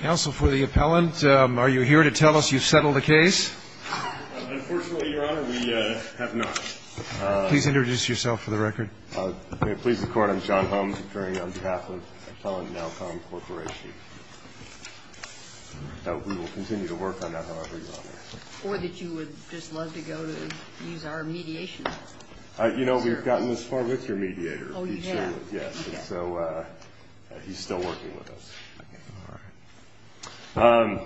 Counsel for the appellant, are you here to tell us you've settled the case? Unfortunately, Your Honor, we have not. Please introduce yourself for the record. Pleased to report, I'm John Holmes, appearing on behalf of Appellant Nowcom Corporation. We will continue to work on that, however, Your Honor. Or that you would just love to go to use our mediation? You know, we've gotten this far with your mediator. Oh, you have? Yes, and so he's still working with us. All right.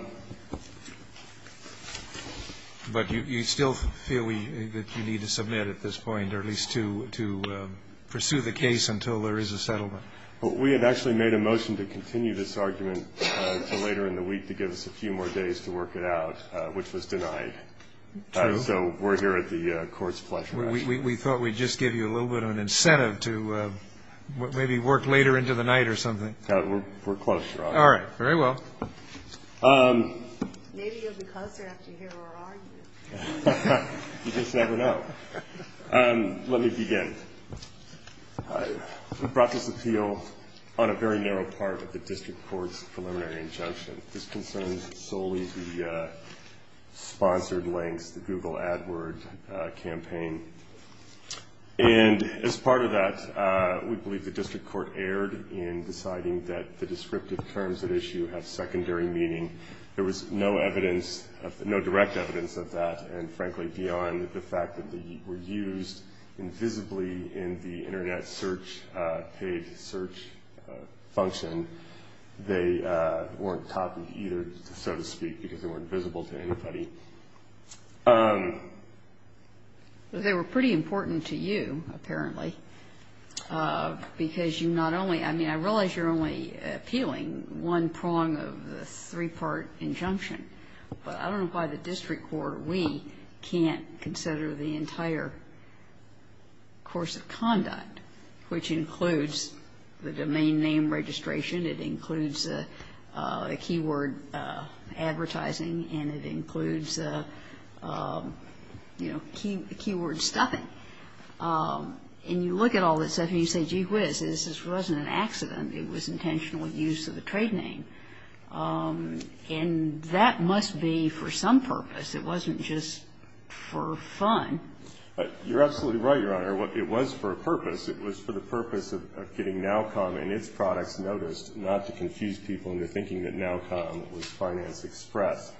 But you still feel that you need to submit at this point, or at least to pursue the case until there is a settlement? We had actually made a motion to continue this argument until later in the week to give us a few more days to work it out, which was denied. True. So we're here at the Court's pleasure. We thought we'd just give you a little bit of an incentive to maybe work later into the night or something. We're close, Your Honor. All right. Very well. Maybe you'll be closer after you hear our argument. You just never know. Let me begin. We brought this appeal on a very narrow part of the District Court's preliminary injunction. This concerns solely the sponsored links, the Google AdWord campaign. And as part of that, we believe the District Court erred in deciding that the descriptive terms at issue have secondary meaning. There was no direct evidence of that, and frankly, beyond the fact that they were used invisibly in the Internet search, paid search function, they weren't copied either, so to speak, because they weren't visible to anybody. They were pretty important to you, apparently, because you not only – I mean, I realize you're only appealing one prong of the three-part injunction, but I don't know why the District Court or we can't consider the entire course of conduct, which includes the domain name registration, it includes the keyword advertising, and it includes, you know, keyword stuffing. And you look at all that stuff and you say, gee whiz, this wasn't an accident. It was intentional use of the trade name. And that must be for some purpose. It wasn't just for fun. You're absolutely right, Your Honor. It was for a purpose. It was for the purpose of getting NowCom and its products noticed, not to confuse people into thinking that NowCom was Finance Express.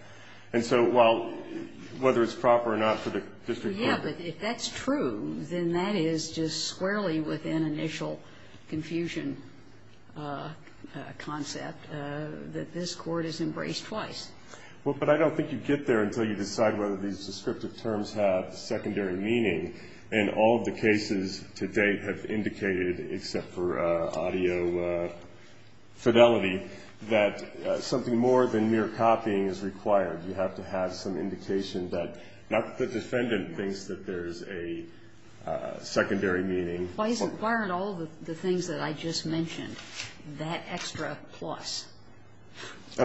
And so while – whether it's proper or not for the District Court to – Yeah, but if that's true, then that is just squarely within initial confusion concept that this Court has embraced twice. Well, but I don't think you get there until you decide whether these descriptive terms have secondary meaning. And all of the cases to date have indicated, except for audio fidelity, that something more than mere copying is required. You have to have some indication that not the defendant thinks that there's a secondary meaning. Why aren't all of the things that I just mentioned that extra plus?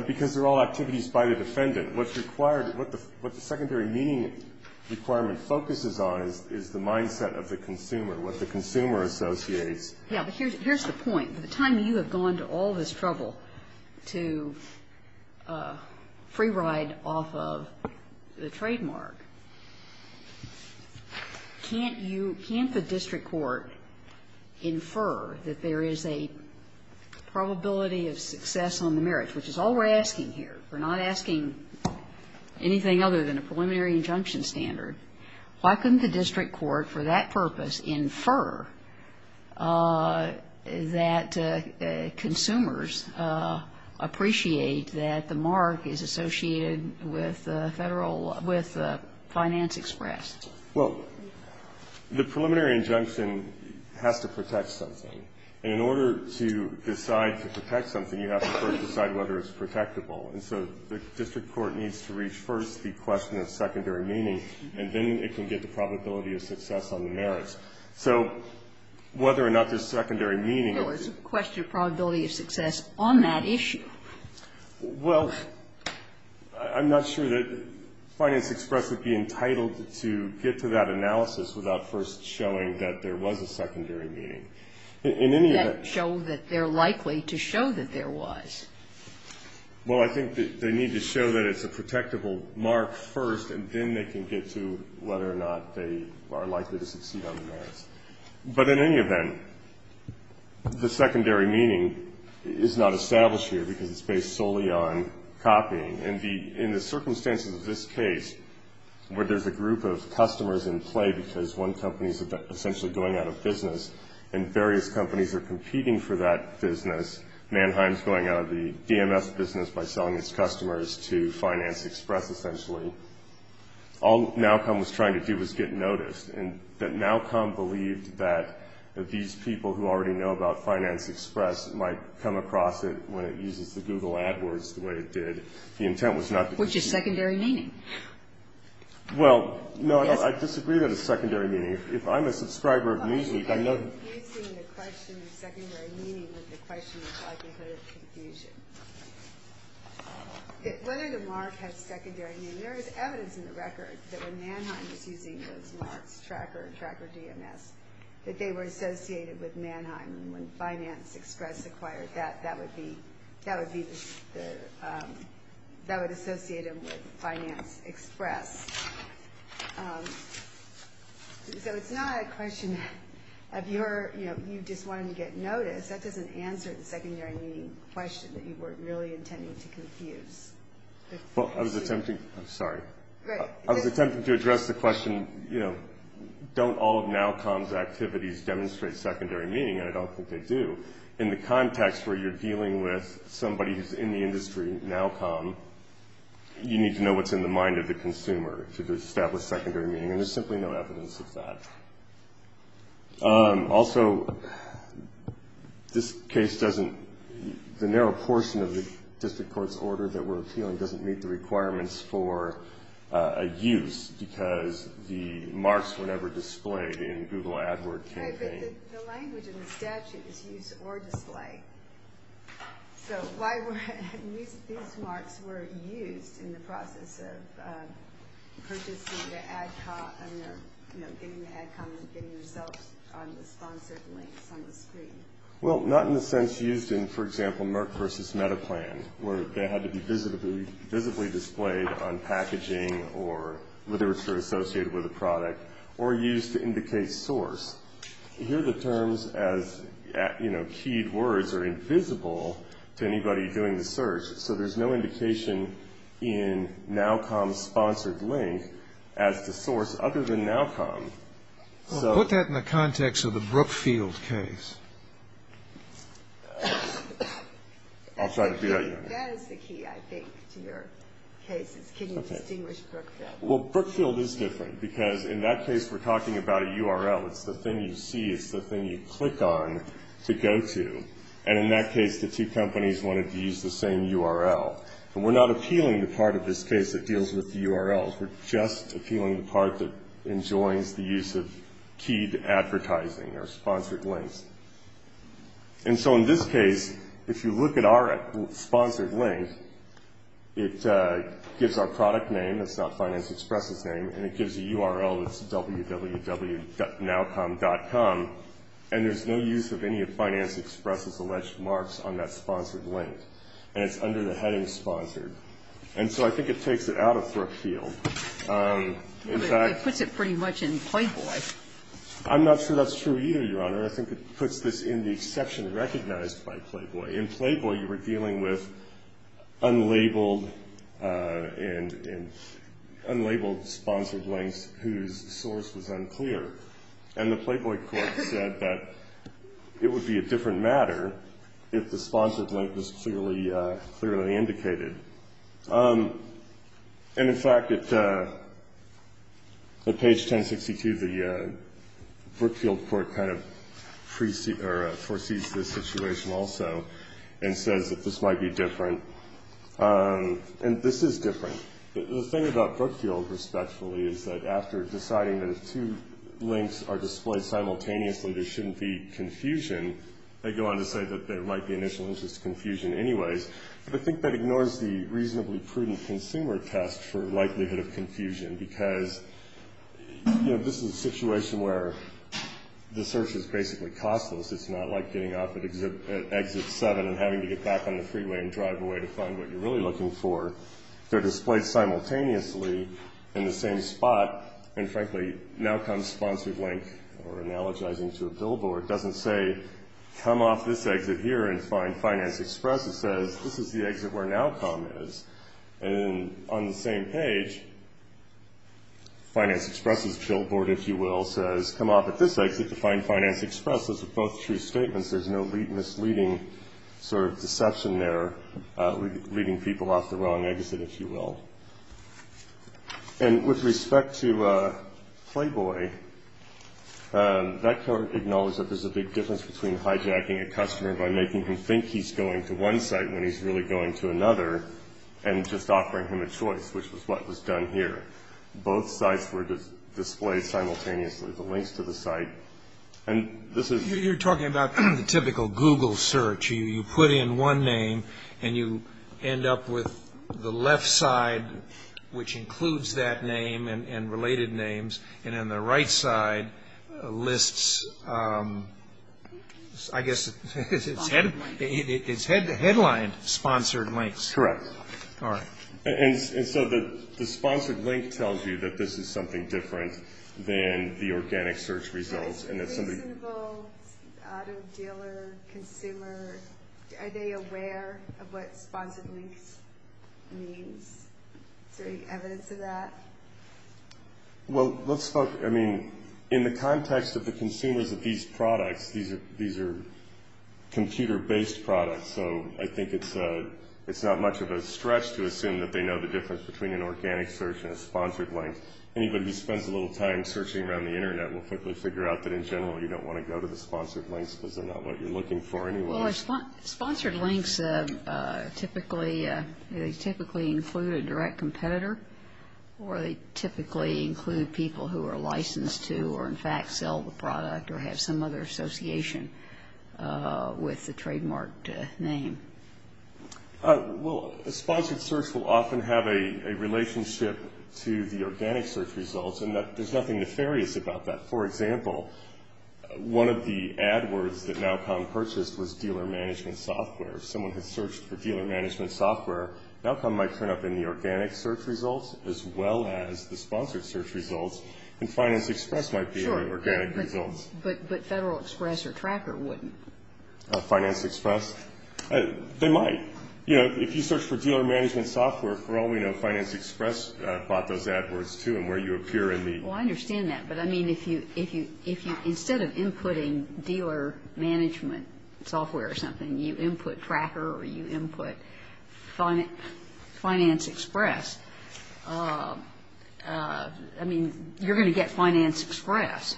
Because they're all activities by the defendant. What's required – what the secondary meaning requirement focuses on is the mindset of the consumer, what the consumer associates. Yeah, but here's the point. By the time you have gone to all this trouble to free ride off of the trademark, can't you – can't the District Court infer that there is a probability of success on the merits, which is all we're asking here? We're not asking anything other than a preliminary injunction standard. Why couldn't the District Court for that purpose infer that consumers appreciate that the mark is associated with Federal – with Finance Express? Well, the preliminary injunction has to protect something. And in order to decide to protect something, you have to first decide whether it's protectable. And so the District Court needs to reach first the question of secondary meaning, and then it can get the probability of success on the merits. So whether or not there's secondary meaning is the question. There was a question of probability of success on that issue. Well, I'm not sure that Finance Express would be entitled to get to that analysis without first showing that there was a secondary meaning. In any event – That show that they're likely to show that there was. Well, I think they need to show that it's a protectable mark first, and then they can get to whether or not they are likely to succeed on the merits. But in any event, the secondary meaning is not established here because it's based solely on copying. In the circumstances of this case, where there's a group of customers in play because one company is essentially going out of business and various companies are competing for that business, Mannheim's going out of the DMS business by selling its customers to Finance Express, essentially, all Nowcombe was trying to do was get noticed. And that Nowcombe believed that these people who already know about Finance Express might come across it when it uses the Google AdWords the way it did, the intent was not to use it. Which is secondary meaning. Well, no, I disagree that it's secondary meaning. If I'm a subscriber of Newsweek, I know that – I'm not using the question of secondary meaning with the question of likelihood of confusion. Whether the mark has secondary meaning, there is evidence in the record that when Mannheim was using those marks, Tracker and Tracker DMS, that they were associated with Mannheim and when Finance Express acquired that, that would be the – that would associate them with Finance Express. So it's not a question of you're – you know, you just wanted to get noticed. That doesn't answer the secondary meaning question that you were really intending to confuse. Well, I was attempting – I'm sorry. I was attempting to address the question, you know, don't all of Nowcombe's activities demonstrate secondary meaning? And I don't think they do. In the context where you're dealing with somebody who's in the industry, Nowcombe, you need to know what's in the mind of the consumer to establish secondary meaning, and there's simply no evidence of that. Also, this case doesn't – the narrow portion of the district court's order that we're appealing doesn't meet the requirements for a use because the marks were never displayed in Google AdWord campaign. Right, but the language in the statute is use or display. So why were – these marks were used in the process of purchasing the ad – you know, getting the ad comments, getting the results on the sponsored links on the screen. Well, not in the sense used in, for example, Merck versus Metaplan, where they had to be visibly displayed on packaging or literature associated with a product or used to indicate source. Here the terms as, you know, keyed words are invisible to anybody doing the search, so there's no indication in Nowcombe's sponsored link as to source other than Nowcombe. Well, put that in the context of the Brookfield case. I'll try to figure out your answer. That is the key, I think, to your case, is can you distinguish Brookfield? Well, Brookfield is different because in that case we're talking about a URL. It's the thing you see. It's the thing you click on to go to. And in that case the two companies wanted to use the same URL. And we're not appealing the part of this case that deals with the URLs. We're just appealing the part that enjoys the use of keyed advertising or sponsored links. And so in this case, if you look at our sponsored link, it gives our product name. It's not Finance Express's name. And it gives a URL that's www.nowcombe.com. And there's no use of any of Finance Express's alleged marks on that sponsored link. And it's under the heading sponsored. And so I think it takes it out of Brookfield. In fact ---- It puts it pretty much in Playboy. I'm not sure that's true either, Your Honor. I think it puts this in the exception recognized by Playboy. In Playboy you were dealing with unlabeled sponsored links whose source was unclear. And the Playboy court said that it would be a different matter if the sponsored link was clearly indicated. And, in fact, at page 1062, the Brookfield court kind of foresees this situation also and says that this might be different. And this is different. The thing about Brookfield, respectfully, is that after deciding that if two links are displayed simultaneously, there shouldn't be confusion, they go on to say that there might be initial interest confusion anyways. But I think that ignores the reasonably prudent consumer test for likelihood of confusion because, you know, this is a situation where the search is basically costless. It's not like getting off at Exit 7 and having to get back on the freeway and drive away to find what you're really looking for. They're displayed simultaneously in the same spot. And, frankly, now comes sponsored link or analogizing to a billboard. It doesn't say come off this exit here and find Finance Express. It says this is the exit where NOWCOM is. And on the same page, Finance Express's billboard, if you will, says come off at this exit to find Finance Express. Those are both true statements. There's no misleading sort of deception there, leading people off the wrong exit, if you will. And with respect to Playboy, that cart acknowledges that there's a big difference between hijacking a customer by making him think he's going to one site when he's really going to another and just offering him a choice, which is what was done here. Both sites were displayed simultaneously, the links to the site. And this is... You're talking about the typical Google search. You put in one name, and you end up with the left side, which includes that name and related names, and then the right side lists, I guess, it's headlined sponsored links. Correct. All right. And so the sponsored link tells you that this is something different than the organic search results. Is a reasonable auto dealer, consumer, are they aware of what sponsored links means? Is there any evidence of that? Well, let's start... I mean, in the context of the consumers of these products, these are computer-based products, so I think it's not much of a stretch to assume that they know the difference between an organic search and a sponsored link. Anybody who spends a little time searching around the Internet will quickly figure out that, in general, you don't want to go to the sponsored links because they're not what you're looking for anyway. Well, sponsored links typically include a direct competitor, or they typically include people who are licensed to, or, in fact, sell the product Well, a sponsored search will often have a relationship to the organic search results, and there's nothing nefarious about that. For example, one of the AdWords that NowComm purchased was dealer management software. If someone had searched for dealer management software, NowComm might turn up in the organic search results as well as the sponsored search results, and Finance Express might be in the organic results. But Federal Express or Tracker wouldn't. Finance Express? They might. You know, if you search for dealer management software, for all we know, Finance Express bought those AdWords, too, and where you appear in the Well, I understand that, but, I mean, if you, instead of inputting dealer management software or something, you input Tracker or you input Finance Express, I mean, you're going to get Finance Express.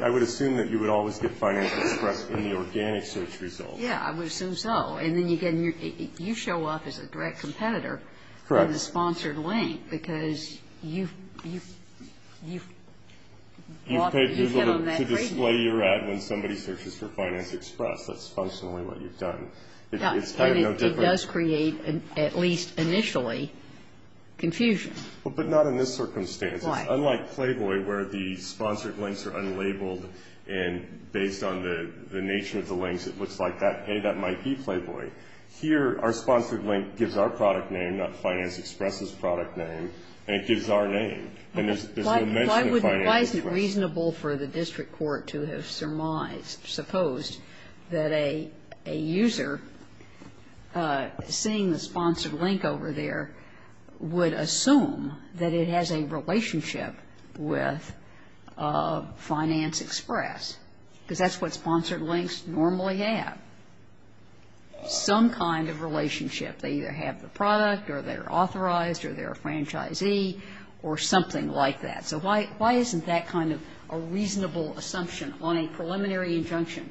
I would assume that you would always get Finance Express in the organic search results. Yeah, I would assume so. And then you show up as a direct competitor in the sponsored link because you've You've paid people to display your ad when somebody searches for Finance Express. That's functionally what you've done. It's kind of no different It does create, at least initially, confusion. But not in this circumstance. Why? Unlike Playboy, where the sponsored links are unlabeled and based on the nature of the links, it looks like, hey, that might be Playboy. Here, our sponsored link gives our product name, not Finance Express's product name, and it gives our name. And there's no mention of Finance Express. Why is it reasonable for the district court to have supposed that a user seeing the sponsored link over there would assume that it has a relationship with Finance Express? Because that's what sponsored links normally have, some kind of relationship. They either have the product or they're authorized or they're a franchisee or something like that. So why isn't that kind of a reasonable assumption on a preliminary injunction?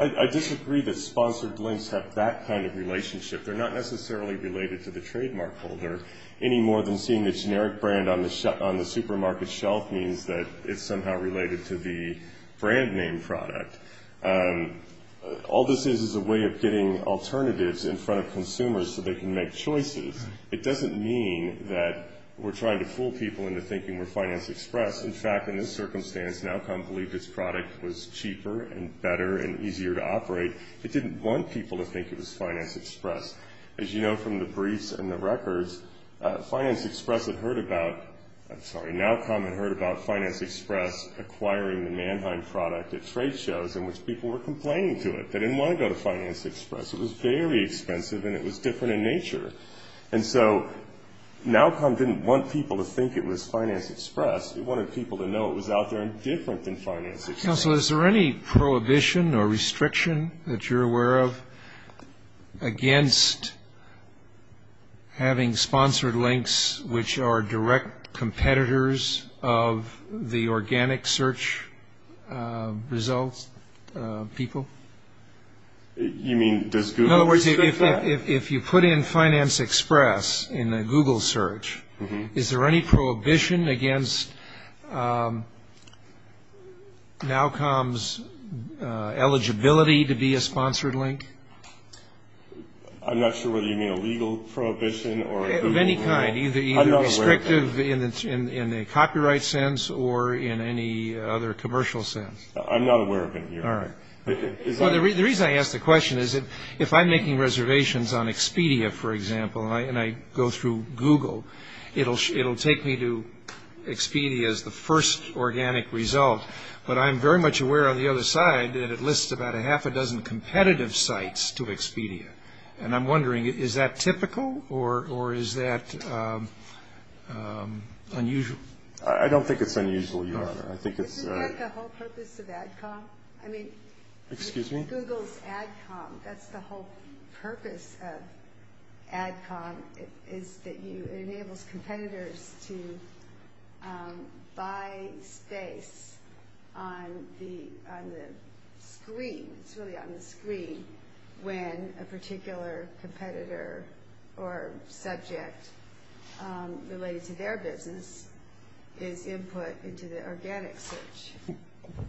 I disagree that sponsored links have that kind of relationship. They're not necessarily related to the trademark holder any more than seeing the generic brand on the supermarket shelf means that it's somehow related to the brand name product. All this is is a way of getting alternatives in front of consumers so they can make choices. It doesn't mean that we're trying to fool people into thinking we're Finance Express. In fact, in this circumstance, Nowcombe believed its product was cheaper and better and easier to operate. It didn't want people to think it was Finance Express. As you know from the briefs and the records, Finance Express had heard about ñ I'm sorry, Nowcombe had heard about Finance Express acquiring the Mannheim product at trade shows in which people were complaining to it. They didn't want to go to Finance Express. It was very expensive and it was different in nature. And so Nowcombe didn't want people to think it was Finance Express. It wanted people to know it was out there and different than Finance Express. Counselor, is there any prohibition or restriction that you're aware of against having sponsored links which are direct competitors of the organic search results people? In other words, if you put in Finance Express in a Google search, is there any prohibition against Nowcombe's eligibility to be a sponsored link? I'm not sure whether you mean a legal prohibition or a Google link. Of any kind, either restrictive in a copyright sense or in any other commercial sense. I'm not aware of any here. All right. The reason I ask the question is if I'm making reservations on Expedia, for example, and I go through Google, it'll take me to Expedia as the first organic result. But I'm very much aware on the other side that it lists about a half a dozen competitive sites to Expedia. And I'm wondering, is that typical or is that unusual? I don't think it's unusual, Your Honor. Isn't that the whole purpose of Adcom? Excuse me? Google's Adcom, that's the whole purpose of Adcom, is that it enables competitors to buy space on the screen, it's really on the screen when a particular competitor or subject related to their business is input into the organic search.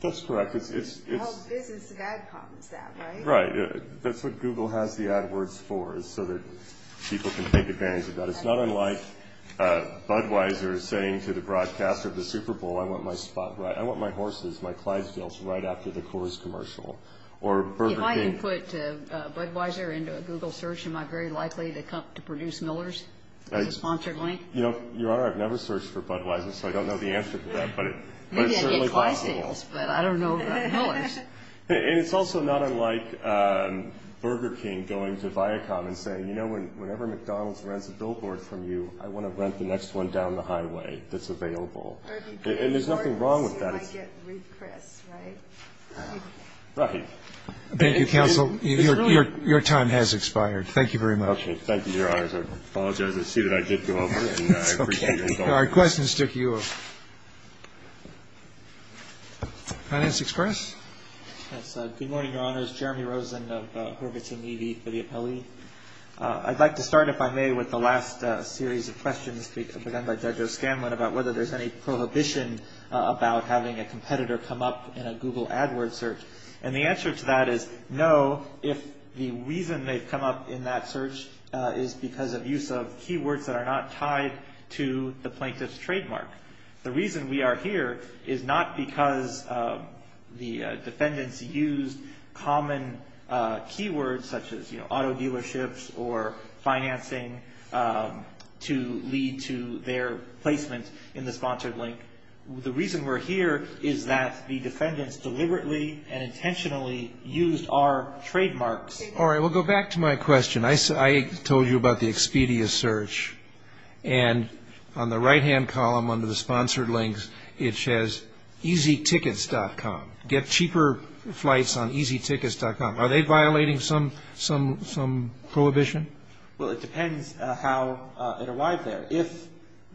That's correct. The whole business of Adcom is that, right? Right. That's what Google has the AdWords for is so that people can take advantage of that. It's not unlike Budweiser saying to the broadcaster of the Super Bowl, I want my horses, my Clydesdales, right after the Coors commercial. If I input Budweiser into a Google search, am I very likely to produce Miller's as a sponsored link? Your Honor, I've never searched for Budweiser, so I don't know the answer to that. Maybe I get Clydesdales, but I don't know about Miller's. And it's also not unlike Burger King going to Viacom and saying, you know, whenever McDonald's rents a billboard from you, I want to rent the next one down the highway that's available. And there's nothing wrong with that. Right. Thank you, Counsel. Your time has expired. Thank you very much. Thank you, Your Honor. I apologize. I see that I did go over. That's okay. Our questions took you over. Finance Express. Good morning, Your Honors. Jeremy Rosen of Hurvitz & Evey for the appellee. I'd like to start, if I may, with the last series of questions begun by Judge O'Scanlan about whether there's any prohibition about having a competitor come up in a Google AdWords search. And the answer to that is no, if the reason they've come up in that search is because of use of keywords that are not tied to the plaintiff's trademark. The reason we are here is not because the defendants used common keywords, such as, you know, auto dealerships or financing, to lead to their placement in the sponsored link. The reason we're here is that the defendants deliberately and intentionally used our trademarks. All right. We'll go back to my question. I told you about the Expedia search. And on the right-hand column under the sponsored links, it says easytickets.com. Get cheaper flights on easytickets.com. Are they violating some prohibition? Well, it depends how it arrived there. If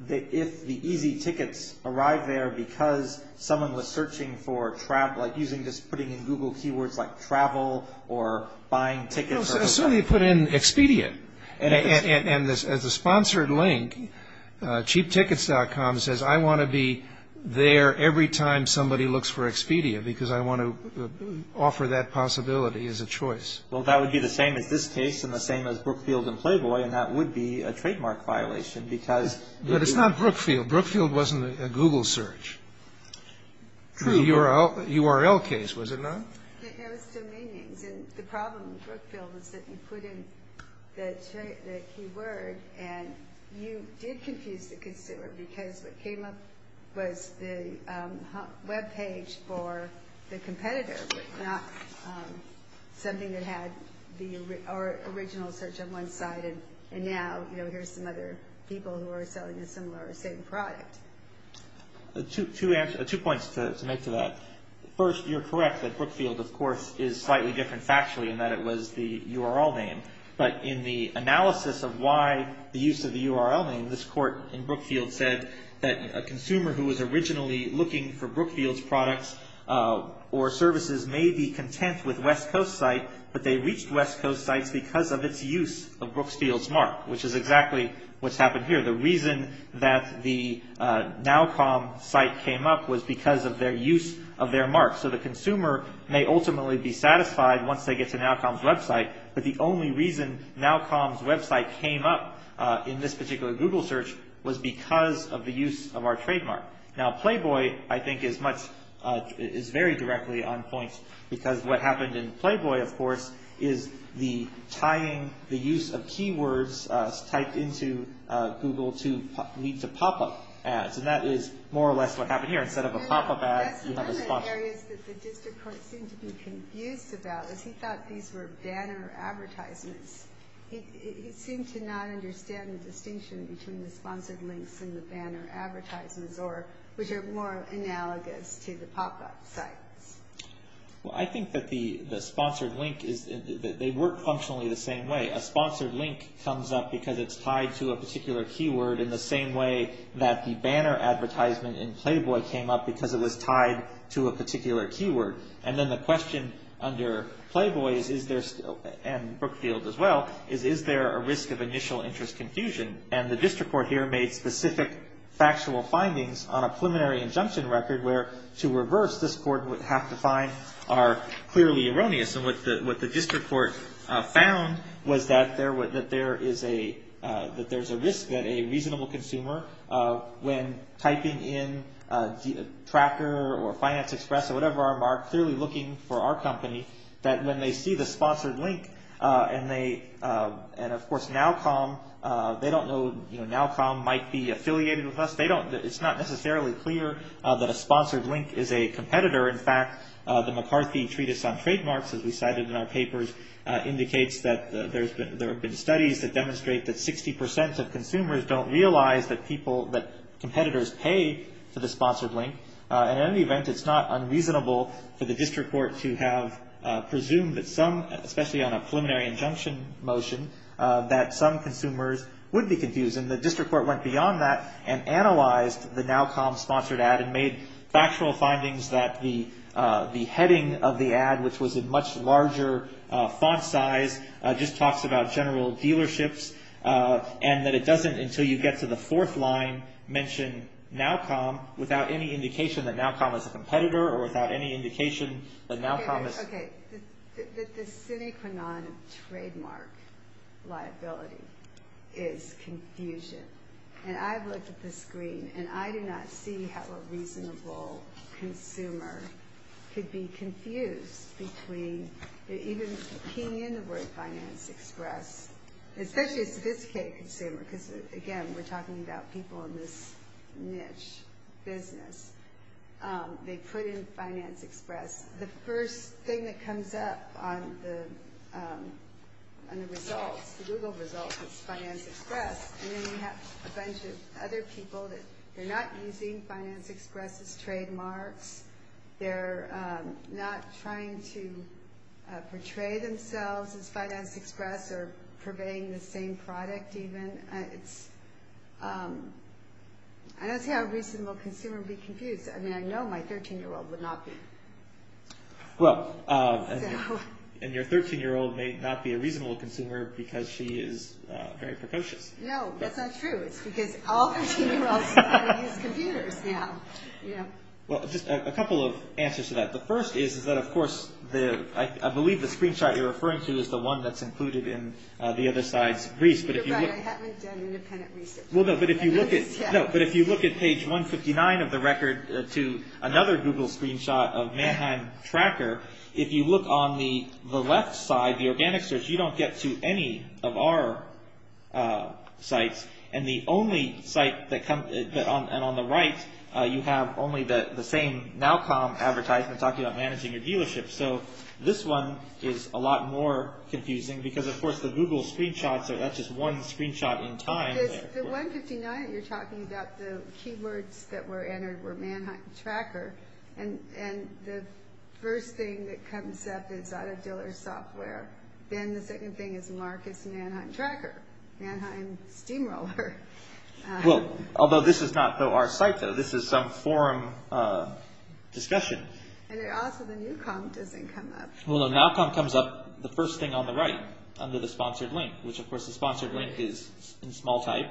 the easy tickets arrived there because someone was searching for travel, like using just putting in Google keywords like travel or buying tickets. No, so they put in Expedia. And as a sponsored link, cheaptickets.com says I want to be there every time somebody looks for Expedia because I want to offer that possibility. That possibility is a choice. Well, that would be the same as this case and the same as Brookfield and Playboy, and that would be a trademark violation because. But it's not Brookfield. Brookfield wasn't a Google search. True. The URL case, was it not? It has two meanings. And the problem with Brookfield is that you put in the keyword, and you did confuse the consumer because what came up was the webpage for the competitor, but not something that had the original search on one side, and now here's some other people who are selling a similar or same product. Two points to make to that. First, you're correct that Brookfield, of course, is slightly different factually in that it was the URL name. But in the analysis of why the use of the URL name, this court in Brookfield said that a consumer who was originally looking for Brookfield's products or services may be content with West Coast site, but they reached West Coast sites because of its use of Brookfield's mark, which is exactly what's happened here. The reason that the Nowcom site came up was because of their use of their mark. So the consumer may ultimately be satisfied once they get to Nowcom's website, but the only reason Nowcom's website came up in this particular Google search was because of the use of our trademark. Now, Playboy, I think, is very directly on point because what happened in Playboy, of course, is the tying the use of keywords typed into Google leads to pop-up ads, and that is more or less what happened here. Instead of a pop-up ad, you have a sponsor. That's one of the areas that the district court seemed to be confused about is he thought these were banner advertisements. He seemed to not understand the distinction between the sponsored links and the banner advertisements, which are more analogous to the pop-up sites. Well, I think that the sponsored link is that they work functionally the same way. A sponsored link comes up because it's tied to a particular keyword in the same way that the banner advertisement in Playboy came up because it was tied to a particular keyword. And then the question under Playboy and Brookfield as well is, is there a risk of initial interest confusion? And the district court here made specific factual findings on a preliminary injunction record where, to reverse, this court would have to find are clearly erroneous. And what the district court found was that there is a risk that a reasonable consumer, when typing in Tracker or Finance Express or whatever our mark, clearly looking for our company, that when they see the sponsored link, and, of course, NowCom, they don't know NowCom might be affiliated with us. It's not necessarily clear that a sponsored link is a competitor. In fact, the McCarthy Treatise on Trademarks, as we cited in our papers, indicates that there have been studies that demonstrate that 60 percent of consumers don't realize that competitors pay for the sponsored link. And in any event, it's not unreasonable for the district court to have presumed that some, particularly on a preliminary injunction motion, that some consumers would be confused. And the district court went beyond that and analyzed the NowCom sponsored ad and made factual findings that the heading of the ad, which was a much larger font size, just talks about general dealerships and that it doesn't, until you get to the fourth line, mention NowCom without any indication that NowCom is a competitor or without any indication that NowCom is. Okay, the sine qua non of trademark liability is confusion. And I've looked at the screen, and I do not see how a reasonable consumer could be confused between, even keying in the word Finance Express, especially a sophisticated consumer, because, again, we're talking about people in this niche business. They put in Finance Express. The first thing that comes up on the results, the Google results, is Finance Express. And then you have a bunch of other people that are not using Finance Express as trademarks. They're not trying to portray themselves as Finance Express or purveying the same product, even. I don't see how a reasonable consumer would be confused. I mean, I know my 13-year-old would not be. Well, and your 13-year-old may not be a reasonable consumer because she is very precocious. No, that's not true. It's because all 13-year-olds use computers now. Well, just a couple of answers to that. The first is that, of course, I believe the screenshot you're referring to is the one that's included in the other side's briefs. You're right. I haven't done independent research. Well, no, but if you look at page 159 of the record to another Google screenshot of Manhattan Tracker, if you look on the left side, the organic search, you don't get to any of our sites. And on the right, you have only the same NowCom advertisement talking about managing your dealership. So this one is a lot more confusing because, of course, the Google screenshot, so that's just one screenshot in time. Because the 159 that you're talking about, the keywords that were entered were Manhattan Tracker. And the first thing that comes up is out-of-dealer software. Then the second thing is Marcus Manhattan Tracker, Manhattan Steamroller. Well, although this is not, though, our site, though. This is some forum discussion. And also the new com doesn't come up. Well, the NowCom comes up, the first thing on the right, under the sponsored link, which, of course, the sponsored link is in small type.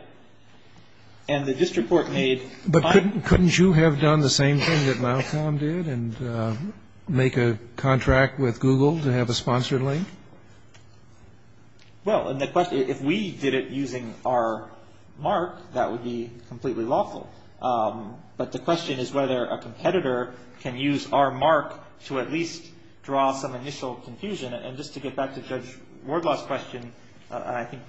But couldn't you have done the same thing that NowCom did and make a contract with Google to have a sponsored link? Well, if we did it using our mark, that would be completely lawful. But the question is whether a competitor can use our mark to at least draw some initial confusion. And just to get back to Judge Wardlaw's question, and I think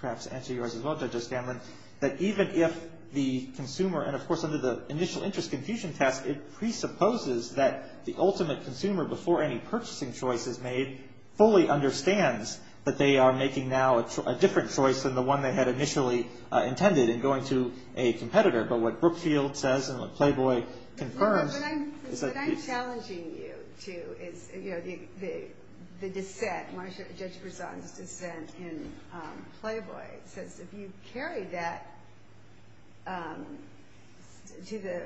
perhaps answer yours as well, Judge O'Scanlan, that even if the consumer, and, of course, under the initial interest confusion test, it presupposes that the ultimate consumer, before any purchasing choice is made, fully understands that they are making now a different choice than the one they had initially intended in going to a competitor. But what Brookfield says and what Playboy confirms is that... What I'm challenging you to is, you know, the dissent, Judge Brisson's dissent in Playboy, says if you carry that to the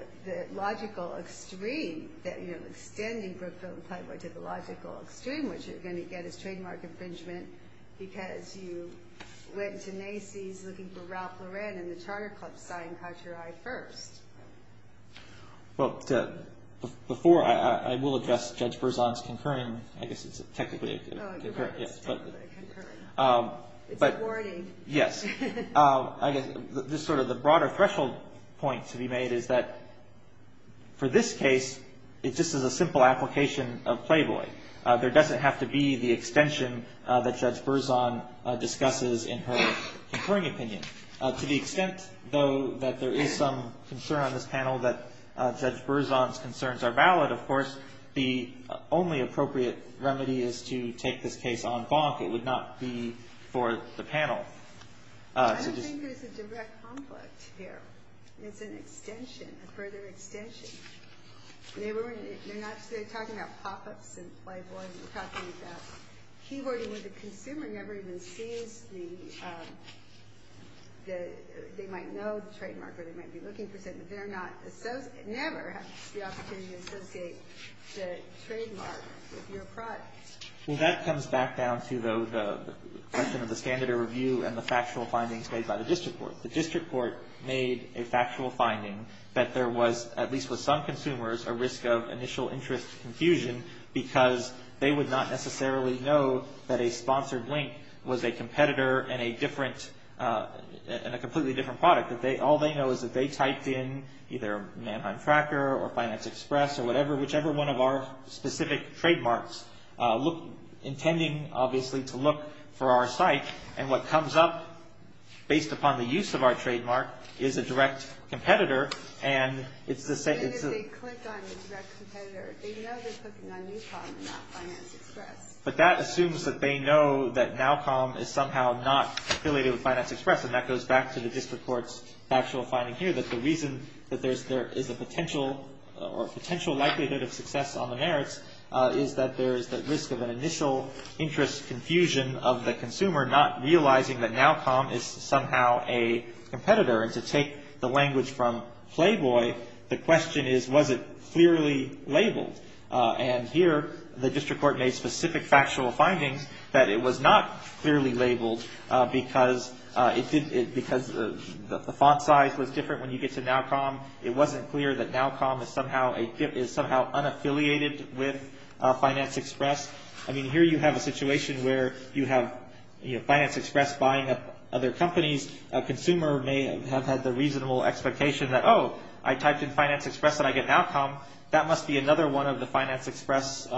logical extreme, you know, extending Brookfield and Playboy to the logical extreme, what you're going to get is trademark infringement because you went to Nacy's looking for Ralph Lauren and the Charter Club sign caught your eye first. Well, before I will address Judge Brisson's concurring, I guess it's technically a concurring... Oh, you're right, it's technically a concurring. But... It's a warning. Yes. I guess just sort of the broader threshold point to be made is that for this case, it just is a simple application of Playboy. There doesn't have to be the extension that Judge Brisson discusses in her concurring opinion. To the extent, though, that there is some concern on this panel that Judge Brisson's concerns are valid, of course, the only appropriate remedy is to take this case on bonk. It would not be for the panel to just... I don't think there's a direct conflict here. It's an extension, a further extension. They're not... They're talking about pop-ups in Playboy. They're talking about keyboarding where the consumer never even sees the... They might know the trademark or they might be looking for something. They're not... Never has the opportunity to associate the trademark with your product. Well, that comes back down to, though, the question of the standard of review and the factual findings made by the district court. The district court made a factual finding that there was, at least with some consumers, a risk of initial interest confusion because they would not necessarily know that a sponsored link was a competitor in a different... in a completely different product. All they know is that they typed in either Mannheim Tracker or Finance Express or whatever, whichever one of our specific trademarks, intending, obviously, to look for our site. And what comes up, based upon the use of our trademark, is a direct competitor. And it's the same... Even if they click on the direct competitor, they know they're clicking on Newcom and not Finance Express. But that assumes that they know that Nowcom is somehow not affiliated with Finance Express, and that goes back to the district court's factual finding here, that the reason that there is a potential or potential likelihood of success on the merits is that there is the risk of an initial interest confusion of the consumer not realizing that Nowcom is somehow a competitor. And to take the language from Playboy, the question is, was it clearly labeled? And here, the district court made specific factual findings that it was not clearly labeled because it did... because the font size was different when you get to Nowcom. It wasn't clear that Nowcom is somehow unaffiliated with Finance Express. I mean, here you have a situation where you have Finance Express buying up other companies. A consumer may have had the reasonable expectation that, oh, I typed in Finance Express and I get Nowcom. That must be another one of the Finance Express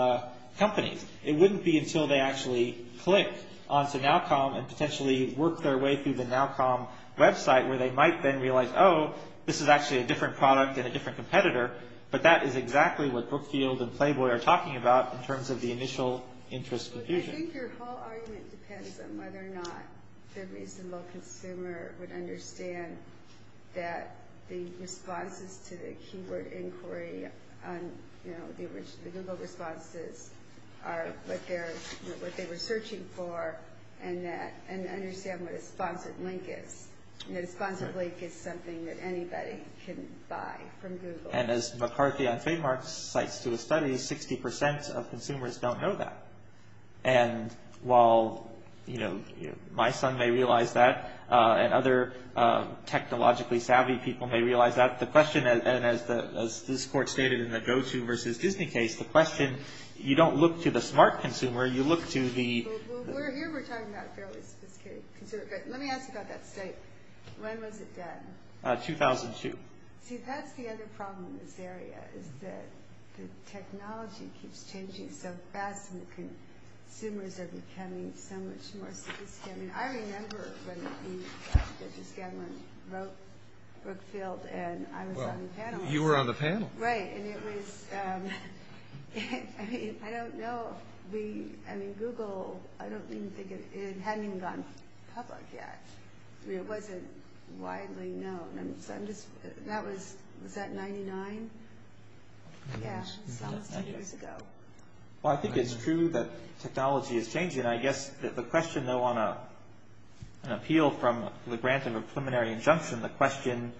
companies. It wouldn't be until they actually click onto Nowcom and potentially work their way through the Nowcom website where they might then realize, oh, this is actually a different product and a different competitor, but that is exactly what Brookfield and Playboy are talking about in terms of the initial interest confusion. Well, I think your whole argument depends on whether or not the reasonable consumer would understand that the responses to the keyword inquiry on the original Google responses are what they were searching for and understand what a sponsored link is. A sponsored link is something that anybody can buy from Google. And as McCarthy on trademark cites to a study, 60% of consumers don't know that. And while my son may realize that and other technologically savvy people may realize that, the question, and as this court stated in the GoTo versus Disney case, the question, you don't look to the smart consumer, you look to the... Well, here we're talking about a fairly sophisticated consumer. Let me ask you about that state. When was it done? 2002. See, that's the other problem in this area is that the technology keeps changing so fast and the consumers are becoming so much more sophisticated. I remember when we got together and wrote Brookfield and I was on the panel. You were on the panel. Right. And it was... I mean, I don't know if we... I mean, Google, I don't even think it had even gone public yet. I mean, it wasn't widely known. I'm just... That was... Was that 99? Yeah. That was 10 years ago. Well, I think it's true that technology is changing. I guess the question, though, on an appeal from the grant of a preliminary injunction, the question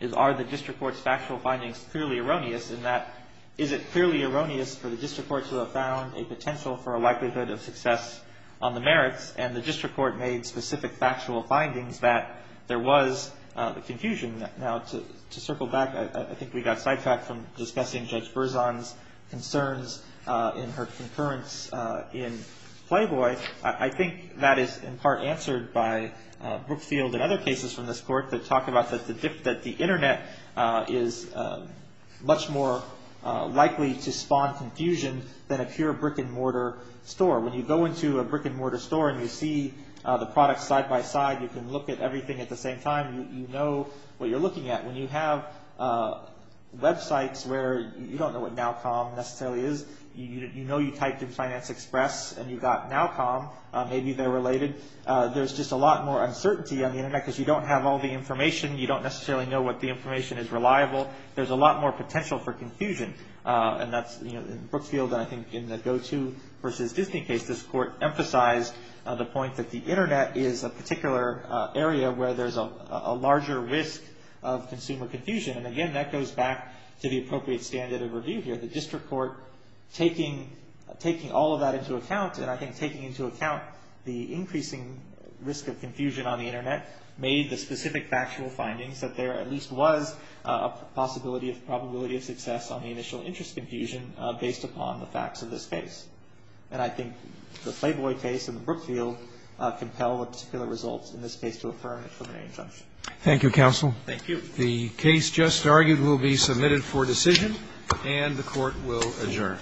is are the district court's factual findings clearly erroneous in that is it clearly erroneous for the district court to have found a potential for a likelihood of success on the merits and the district court made specific factual findings that there was confusion. Now, to circle back, I think we got sidetracked from discussing Judge Berzon's concerns in her concurrence in Playboy. I think that is in part answered by Brookfield and other cases from this court that talk about that the Internet is much more likely to spawn confusion than a pure brick-and-mortar store. When you go into a brick-and-mortar store and you see the products side-by-side, you can look at everything at the same time, you know what you're looking at. When you have websites where you don't know what NowCom necessarily is, you know you typed in Finance Express and you got NowCom, maybe they're related. There's just a lot more uncertainty on the Internet because you don't have all the information. You don't necessarily know what the information is reliable. There's a lot more potential for confusion. And that's, you know, in Brookfield and I think in the GoTo versus Disney case, this court emphasized the point that the Internet is a particular area where there's a larger risk of consumer confusion. And again, that goes back to the appropriate standard of review here. The district court, taking all of that into account, and I think taking into account the increasing risk of confusion on the Internet, made the specific factual findings that there at least was a possibility of probability of success on the initial interest confusion based upon the facts of this case. And I think the Flayboy case and the Brookfield compel with particular results in this case to affirm the preliminary injunction. Thank you, counsel. Thank you. The case just argued will be submitted for decision. And the Court will adjourn.